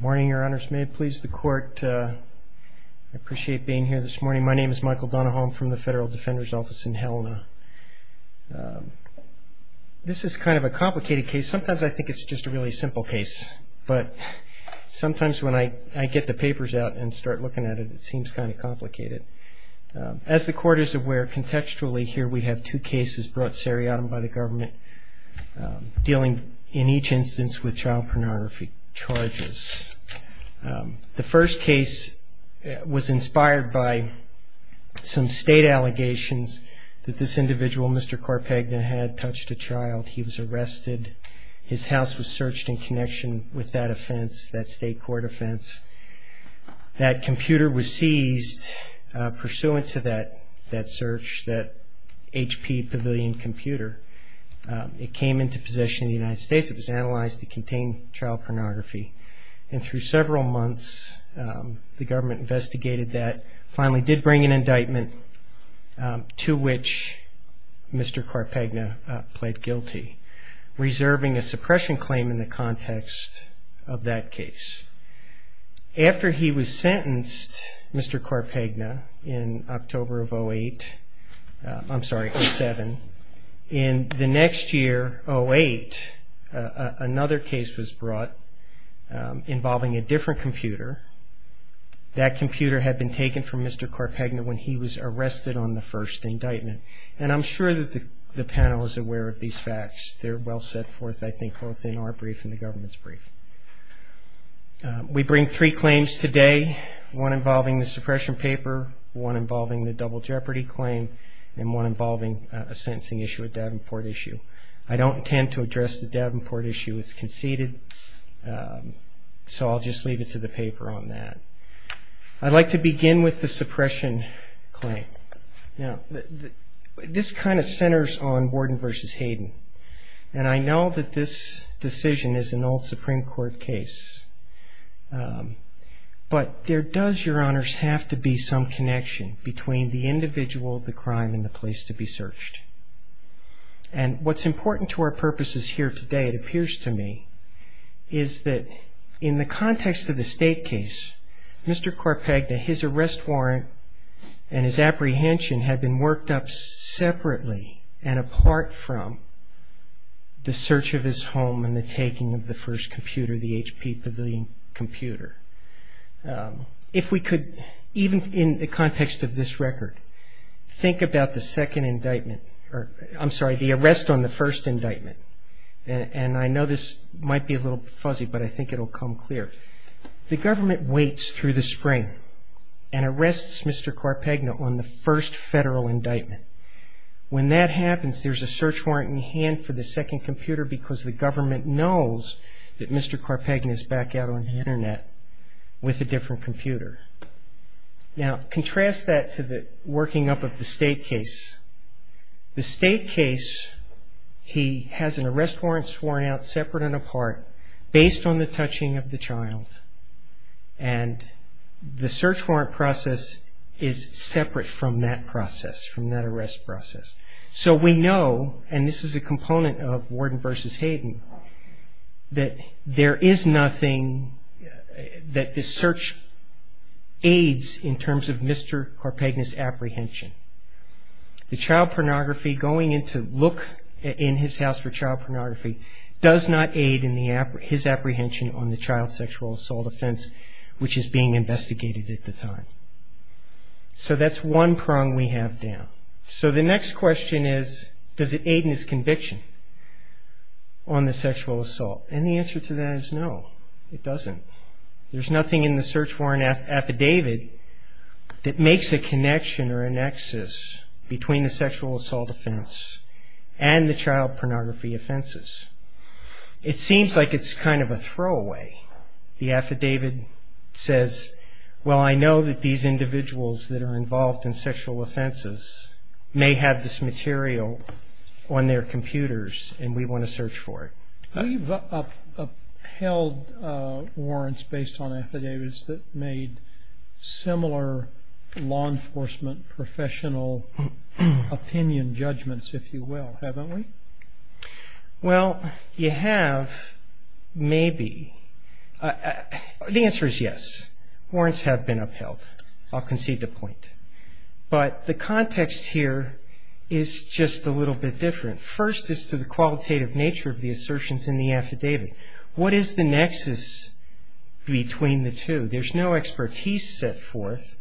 morning your honors may please the court I appreciate being here this morning my name is Michael Donahoe I'm from the Federal Defender's Office in Helena this is kind of a complicated case sometimes I think it's just a really simple case but sometimes when I I get the papers out and start looking at it it seems kind of complicated as the court is aware contextually here we have two cases brought seriatim by the government dealing in each instance with child pornography charges the first case was inspired by some state allegations that this individual Mr. Carpegna had touched a child he was arrested his house was searched in connection with that offense that state court offense that computer was seized pursuant to that that search that HP pavilion computer it is analyzed to contain child pornography and through several months the government investigated that finally did bring an indictment to which Mr. Carpegna pled guilty reserving a suppression claim in the context of that case after he was sentenced Mr. Carpegna in October of 08 I'm sorry seven in the year 08 another case was brought involving a different computer that computer had been taken from Mr. Carpegna when he was arrested on the first indictment and I'm sure that the panel is aware of these facts they're well set forth I think both in our brief in the government's brief we bring three claims today one involving the suppression paper one involving the I don't intend to address the Davenport issue it's conceded so I'll just leave it to the paper on that I'd like to begin with the suppression claim you know this kind of centers on warden versus Hayden and I know that this decision is an old Supreme Court case but there does your honors have to be some connection between the individual the crime in the place to be searched and what's important to our purposes here today it appears to me is that in the context of the state case Mr. Carpegna his arrest warrant and his apprehension had been worked up separately and apart from the search of his home and the taking of the first computer the HP pavilion computer if we could even in the context of this record think about the second indictment or I'm sorry the arrest on the first indictment and I know this might be a little fuzzy but I think it'll come clear the government waits through the spring and arrests mr. Carpegna on the first federal indictment when that happens there's a search warrant in hand for the second computer because the government knows that mr. Carpegna is back out on the internet with a now contrast that to the working up of the state case the state case he has an arrest warrant sworn out separate and apart based on the touching of the child and the search warrant process is separate from that process from that arrest process so we know and this is a component of warden versus Hayden that there is nothing that this search aids in terms of mr. Carpegna's apprehension the child pornography going into look in his house for child pornography does not aid in the app his apprehension on the child sexual assault offense which is being investigated at the time so that's one prong we have down so the next question is does it aid in his conviction on the sexual assault and the answer to that is no it doesn't there's nothing in the search warrant affidavit that makes a connection or a nexus between the sexual assault offense and the child pornography offenses it seems like it's kind of a throwaway the affidavit says well I know that these individuals that are involved in sexual offenses may have this material on their computers and we want to search for it up held warrants based on affidavits that made similar law enforcement professional opinion judgments if you will haven't we well you have maybe the answer is yes warrants have been upheld I'll concede the point but the context here is just a little bit different first is to the qualitative nature of the assertions in the affidavit what is the nexus between the two there's no expertise set forth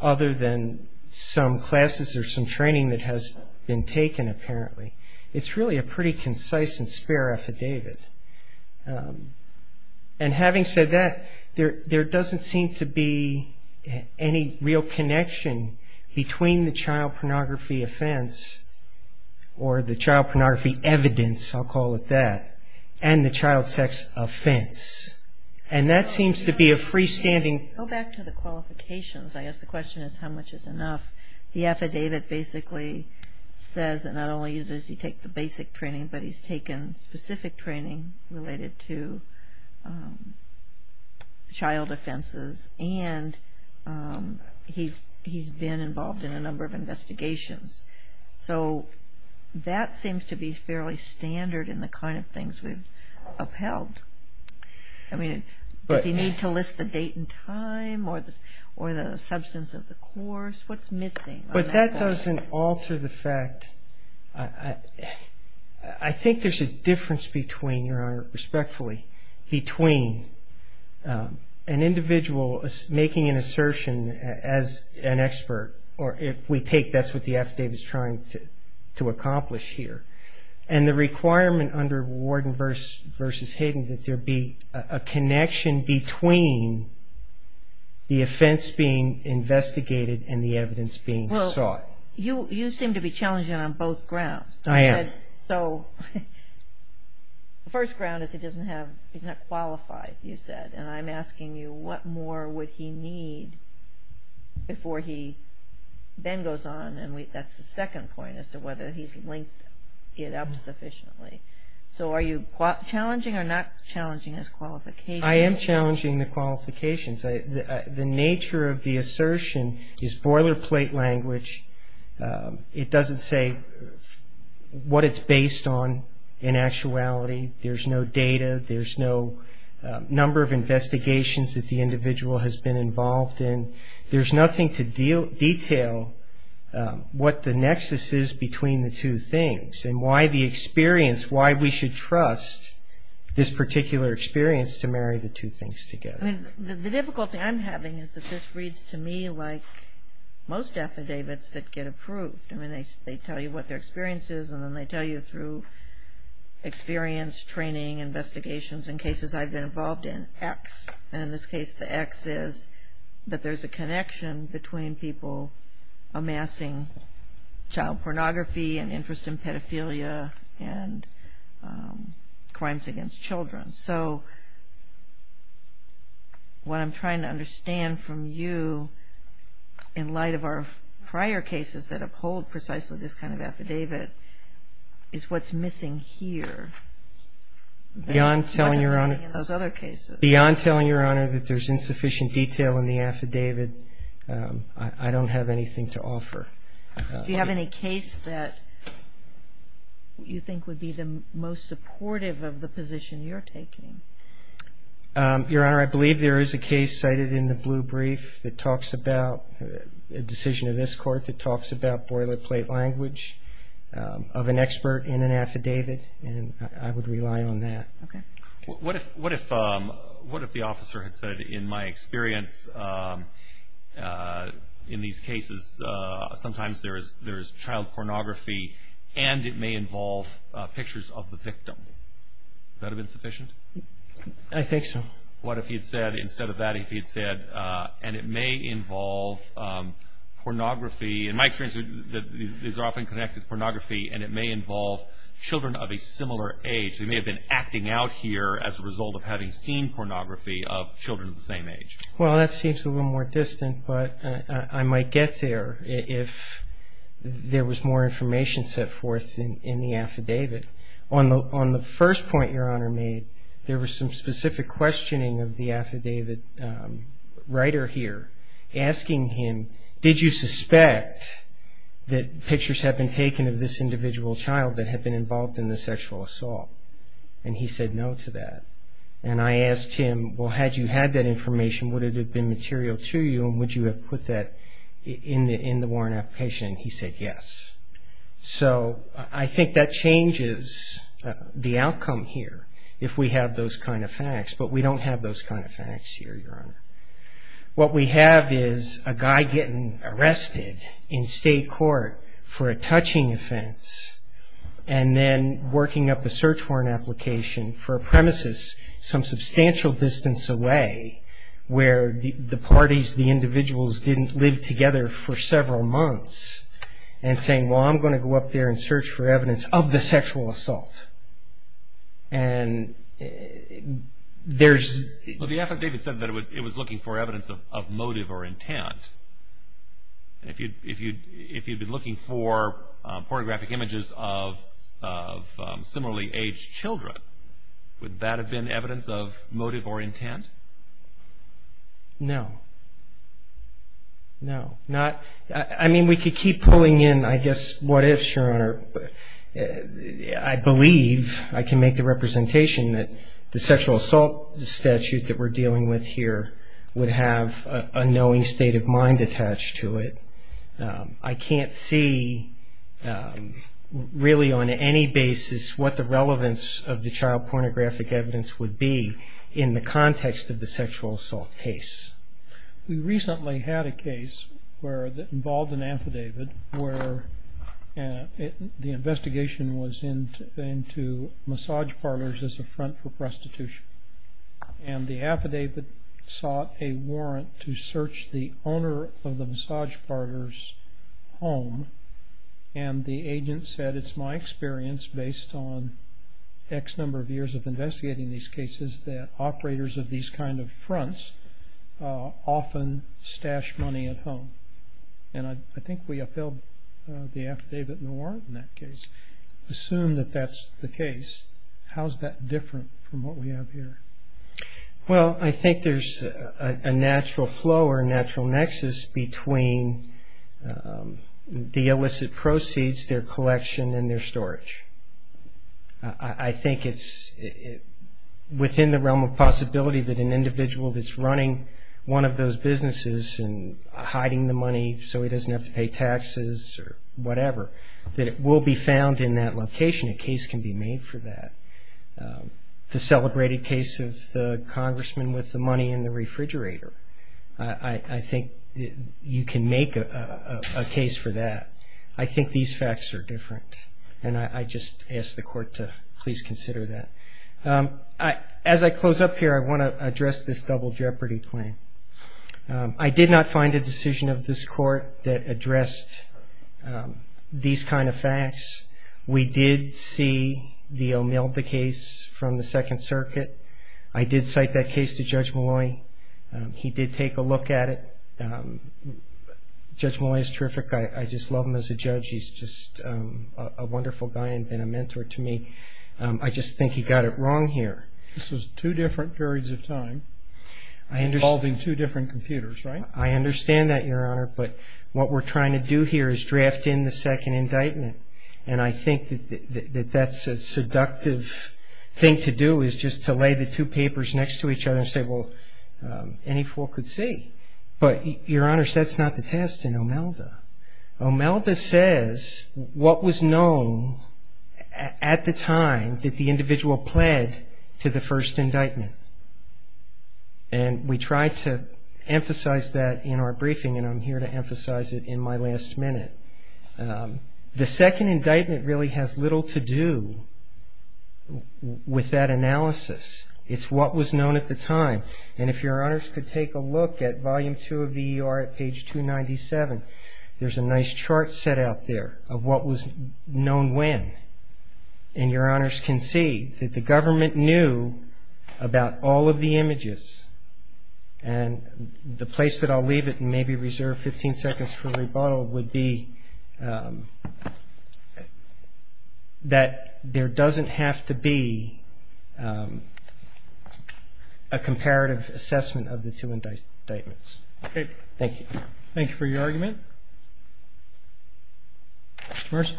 other than some classes or some training that has been taken apparently it's really a pretty concise and spare affidavit and having said that there there doesn't seem to be any real connection between the child pornography offense or the child pornography evidence I'll call it that and the child sex offense and that seems to be a freestanding go back to the qualifications I guess the question is how much is enough the affidavit basically says that not only does he take the basic training but he's taken specific training related to child he's been involved in a number of investigations so that seems to be fairly standard in the kind of things we've upheld I mean but you need to list the date and time or this or the substance of the course what's missing but that doesn't alter the fact I think there's a difference between your honor an expert or if we take that's what the affidavit is trying to to accomplish here and the requirement under Warden versus Hayden that there be a connection between the offense being investigated and the evidence being sought you you seem to be challenging on both grounds I am so the first ground is he doesn't have he's not qualified you said and I'm asking you what more would he need before he then goes on and we that's the second point as to whether he's linked it up sufficiently so are you challenging or not challenging his qualifications I am challenging the qualifications the nature of the assertion is boilerplate language it doesn't say what it's based on in actuality there's no data there's no number of investigations that the individual has been involved in there's nothing to deal detail what the nexus is between the two things and why the experience why we should trust this particular experience to marry the two things together the difficulty I'm having is that this reads to me like most affidavits that get approved I mean they tell you what their experience is and then they tell you through experience training investigations in cases I've been involved in X and in this case the X is that there's a connection between people amassing child pornography and interest in pedophilia and crimes against children so what I'm trying to understand from you in light of our prior cases that uphold precisely this kind of affidavit is what's missing here beyond telling your honor those other cases beyond telling your honor that there's insufficient detail in the affidavit I don't have anything to offer you have any case that you think would be the most supportive of the position you're taking your honor I believe there is a case cited in the blue brief that talks about a decision of this court that talks about boilerplate language of an expert in an affidavit and I would rely on that okay what if what if what if the officer had said in my experience in these cases sometimes there is there is child pornography and it may involve pictures of the victim that have been sufficient I think so what if he had said instead of that if he had said and it may involve pornography in my experience these are often connected pornography and it may involve children of a similar age they may have been acting out here as a result of having seen pornography of children of the same age well that seems a little more distant but I might get there if there was more information set forth in the affidavit on the on the first point your honor made there was some specific questioning of the affidavit writer here asking him did you suspect that pictures have been taken of this individual child that had been involved in the sexual assault and he said no to that and I asked him well had you had that information would it have been material to you and would you have put that in the in the warrant application he said yes so I think that changes the outcome here if we have those kind of facts but we don't have those kind of facts here your honor what we have is a guy getting arrested in state court for a touching offense and then working up a search warrant application for a premises some substantial distance away where the parties the individuals didn't live together for several months and saying well I'm going to go up there and search for evidence of the sexual assault and there's the affidavit said that it was looking for evidence of motive or intent and if you'd if you'd if you'd been looking for pornographic images of similarly aged children would that have been evidence of motive or intent no no not I mean we could keep pulling in I guess what if your honor I believe I can make the representation that the sexual assault statute that we're dealing with here would have a knowing state of mind attached to it I can't see really on any basis what the relevance of the child pornographic evidence would be in the context of the sexual assault case we and the investigation was in into massage parlors as a front for prostitution and the affidavit sought a warrant to search the owner of the massage parlors home and the agent said it's my experience based on X number of years of investigating these cases that operators of these kind of fronts often stash money at home and I think we upheld the affidavit in the warrant in that case assume that that's the case how's that different from what we have here well I think there's a natural flow or natural nexus between the illicit proceeds their collection and their storage I think it's within the realm of possibility that an individual that's running one of those businesses and hiding the money so he doesn't have to pay taxes or whatever that it will be found in that location a case can be made for that the celebrated case of the congressman with the money in the refrigerator I think you can make a case for that I think these facts are different and I just ask the court to please consider that I as I close up here I want to address this double jeopardy claim I did not find a decision of this court that addressed these kind of facts we did see the Omilda case from the Second Circuit I did cite that case to Judge Malloy he did take a look at it Judge Malloy is terrific I just love him as a judge he's just a wonderful guy and I understand that your honor but what we're trying to do here is draft in the second indictment and I think that that's a seductive thing to do is just to lay the two papers next to each other and say well any fool could see but your honors that's not the test in Omelda Omelda says what was known at the time that the individual pled to the first indictment and we tried to emphasize that in our briefing and I'm here to emphasize it in my last minute the second indictment really has little to do with that analysis it's what was known at the time and if your honors could take a look at volume two of the ER at page 297 there's a nice chart set out there of what was known when and your honors can see that the government knew about all of the images and the place that I'll leave it maybe reserve 15 seconds for rebuttal would be that there doesn't have to be a comparative assessment of the two indictments okay thank you thank you for your argument first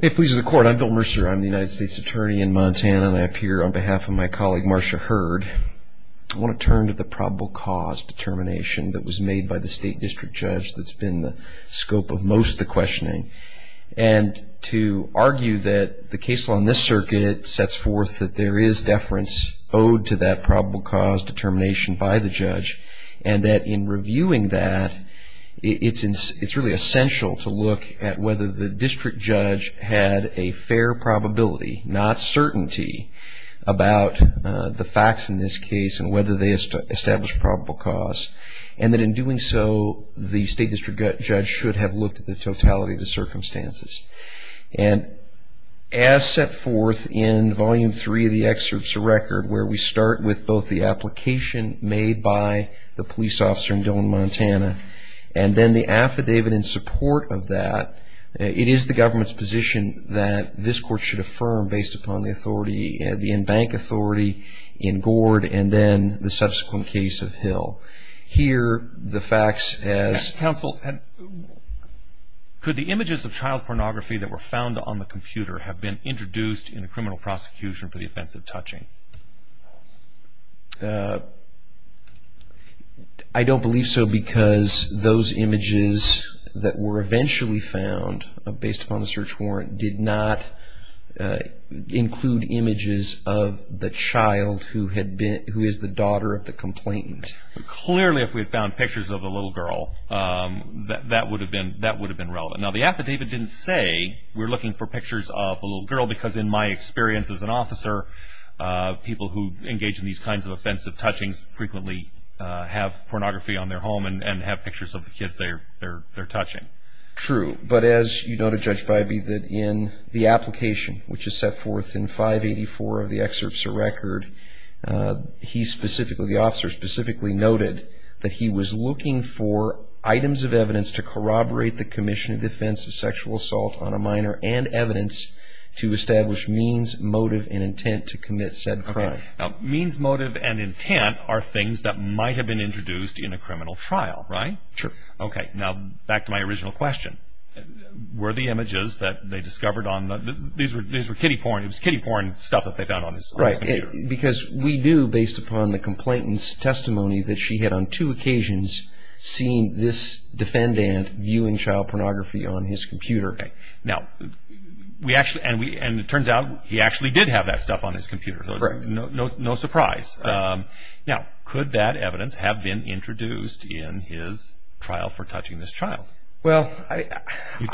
it pleases the court I'm Bill Mercer I'm the United States Attorney in Montana and I appear on behalf of my colleague Marsha Hurd I want to turn to the probable cause determination that was made by the State District Judge that's been the scope of most the questioning and to argue that the case law in this circuit sets forth that there is deference owed to that probable cause determination by the judge and that in reviewing that it's in it's really essential to look at whether the district judge had a fair probability not certainty about the facts in this case and whether they established probable cause and that in doing so the State District Judge should have looked at the totality of the circumstances and as set forth in volume three of the application made by the police officer in Dillon Montana and then the affidavit in support of that it is the government's position that this court should affirm based upon the authority and the in-bank authority in Gord and then the subsequent case of Hill here the facts as counsel and could the images of child pornography that were found on the computer have been introduced in a criminal prosecution for the offense of touching I don't believe so because those images that were eventually found based on the search warrant did not include images of the child who had been who is the daughter of the complainant clearly if we found pictures of a little girl that would have been that would have been relevant now the affidavit didn't say we're looking for pictures of a little girl because in my experience as an officer people who engage in these kinds of offensive touchings frequently have pornography on their home and have pictures of the kids they're touching true but as you noted Judge Bybee that in the application which is set forth in 584 of the excerpts of record he specifically officer specifically noted that he was looking for items of evidence to corroborate the commission in defense of sexual assault on a minor and evidence to establish means motive and intent to commit said crime means motive and intent are things that might have been introduced in a criminal trial right ok now back to my original question were the images that they discovered on the these were these were kiddie porn it was kiddie porn stuff that they found on his right because we do based upon the complainants testimony that she had on two occasions seen this defendant viewing child pornography on his computer now we actually and we and it turns out he actually did have that stuff on his computer no no no surprise uh... could that evidence have been introduced in his trial for touching this child well i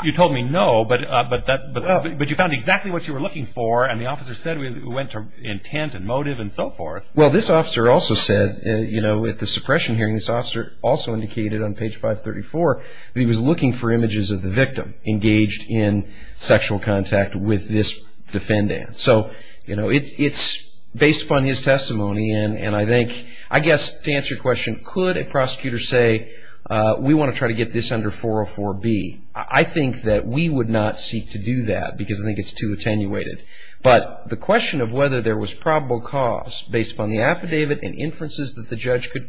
you told me no but uh... but that but i think that you found exactly what you were looking for and the officer said we went to intent and motive and so forth well this officer also said uh... you know with the suppression hearing this officer also indicated on page five thirty four he was looking for images of the victim engaged in sexual contact with this defendant so you know it's it's based on his testimony and and i think i guess to answer your question could a prosecutor say uh... we want to get this under four oh four b i think that we would not seek to do that because i think it's too attenuated but the question of whether there was probable cause based on the affidavit and inferences that the judge could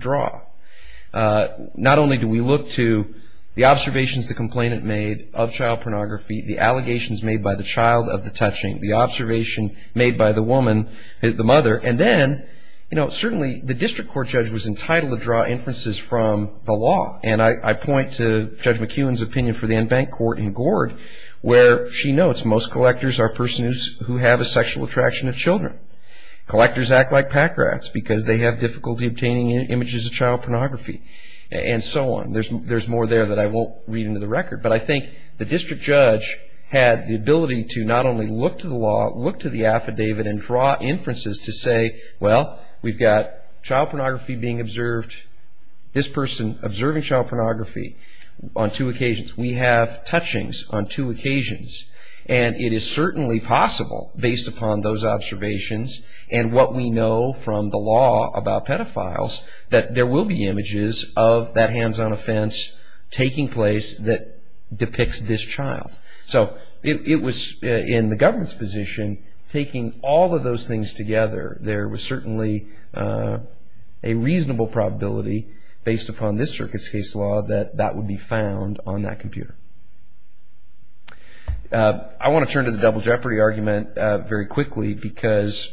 draw uh... not only do we look to the observations the complainant made of child pornography the allegations made by the child of the touching the observation made by the woman the mother and then you know certainly the district court judge was entitled to draw inferences from the law and i i point to judge mckeown's opinion for the enbank court in gourd where she notes most collectors are persons who have a sexual attraction of children collectors act like pack rats because they have difficulty obtaining images of child pornography and so on there's more there that i won't read into the record but i think the district judge had the ability to not only look to the law look to the affidavit and draw inferences to say we've got child pornography being observed this person observing child pornography on two occasions we have touchings on two occasions and it is certainly possible based upon those observations and what we know from the law about pedophiles that there will be images of that hands-on offense taking place that depicts this child it was in the government's position taking all of those things together there was certainly a reasonable probability based upon this circuit's case law that that would be found on that computer uh... i want to turn to the double jeopardy argument very quickly because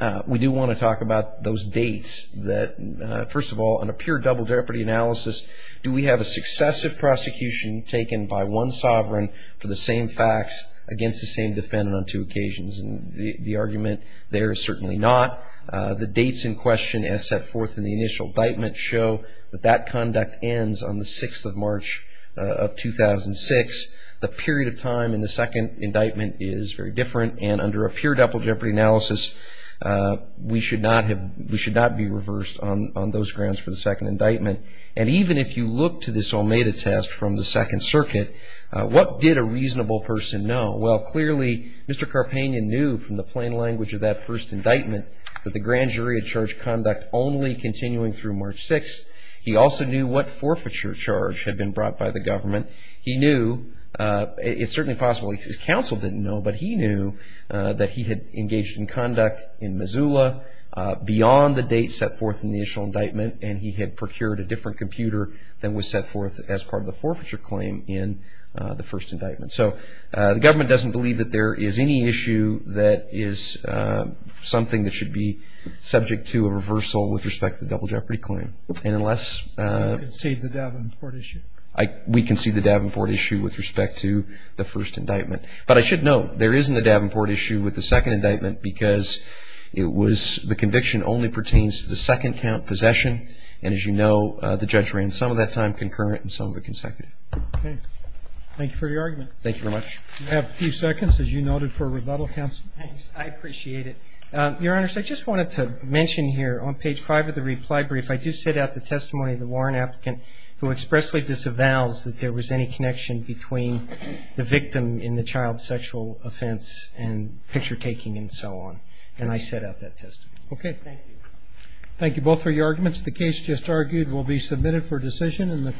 uh... we do want to talk about those dates that uh... first of all in a pure double jeopardy analysis do we have a successive prosecution taken by one sovereign for the same facts against the same defendant on two occasions and the argument there is certainly not uh... the dates in question as set forth in the initial indictment show that that conduct ends on the sixth of march uh... of two thousand six the period of time in the second indictment is very different and under a pure double jeopardy analysis uh... we should not have we should not be reversed on on those grounds for the second indictment and even if you look to this almeda test from the second circuit uh... what did a reasonable person know well clearly mr carpenian knew from the plain language of that first indictment that the grand jury had charged conduct only continuing through march sixth he also knew what forfeiture charge had been brought by the government he knew uh... it's certainly possible his counsel didn't know but he knew uh... that he had engaged in conduct in missoula uh... beyond the date set forth in the initial indictment and he had procured a different computer that was set forth as part of the forfeiture claim in uh... the first indictment so uh... government doesn't believe that there is any issue that is uh... something that should be subject to a reversal with respect to the double jeopardy claim and unless uh... we concede the davenport issue we concede the davenport issue with respect to the first indictment but i should note there isn't a davenport issue with the second indictment because it was the conviction only pertains to the second count possession and as you know uh... the judge ran some of that time concurrent and some of it consecutive okay thank you for your argument thank you very much we have a few seconds as you noted for rebuttal counsel i appreciate it uh... your honors i just wanted to mention here on page five of the reply brief i do set out the testimony of the warren applicant who expressly disavows that there was any connection between the victim in the child sexual offense and picture-taking and so on and i set out that testimony thank you both for your arguments the case just argued will be submitted for the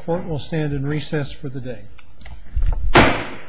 day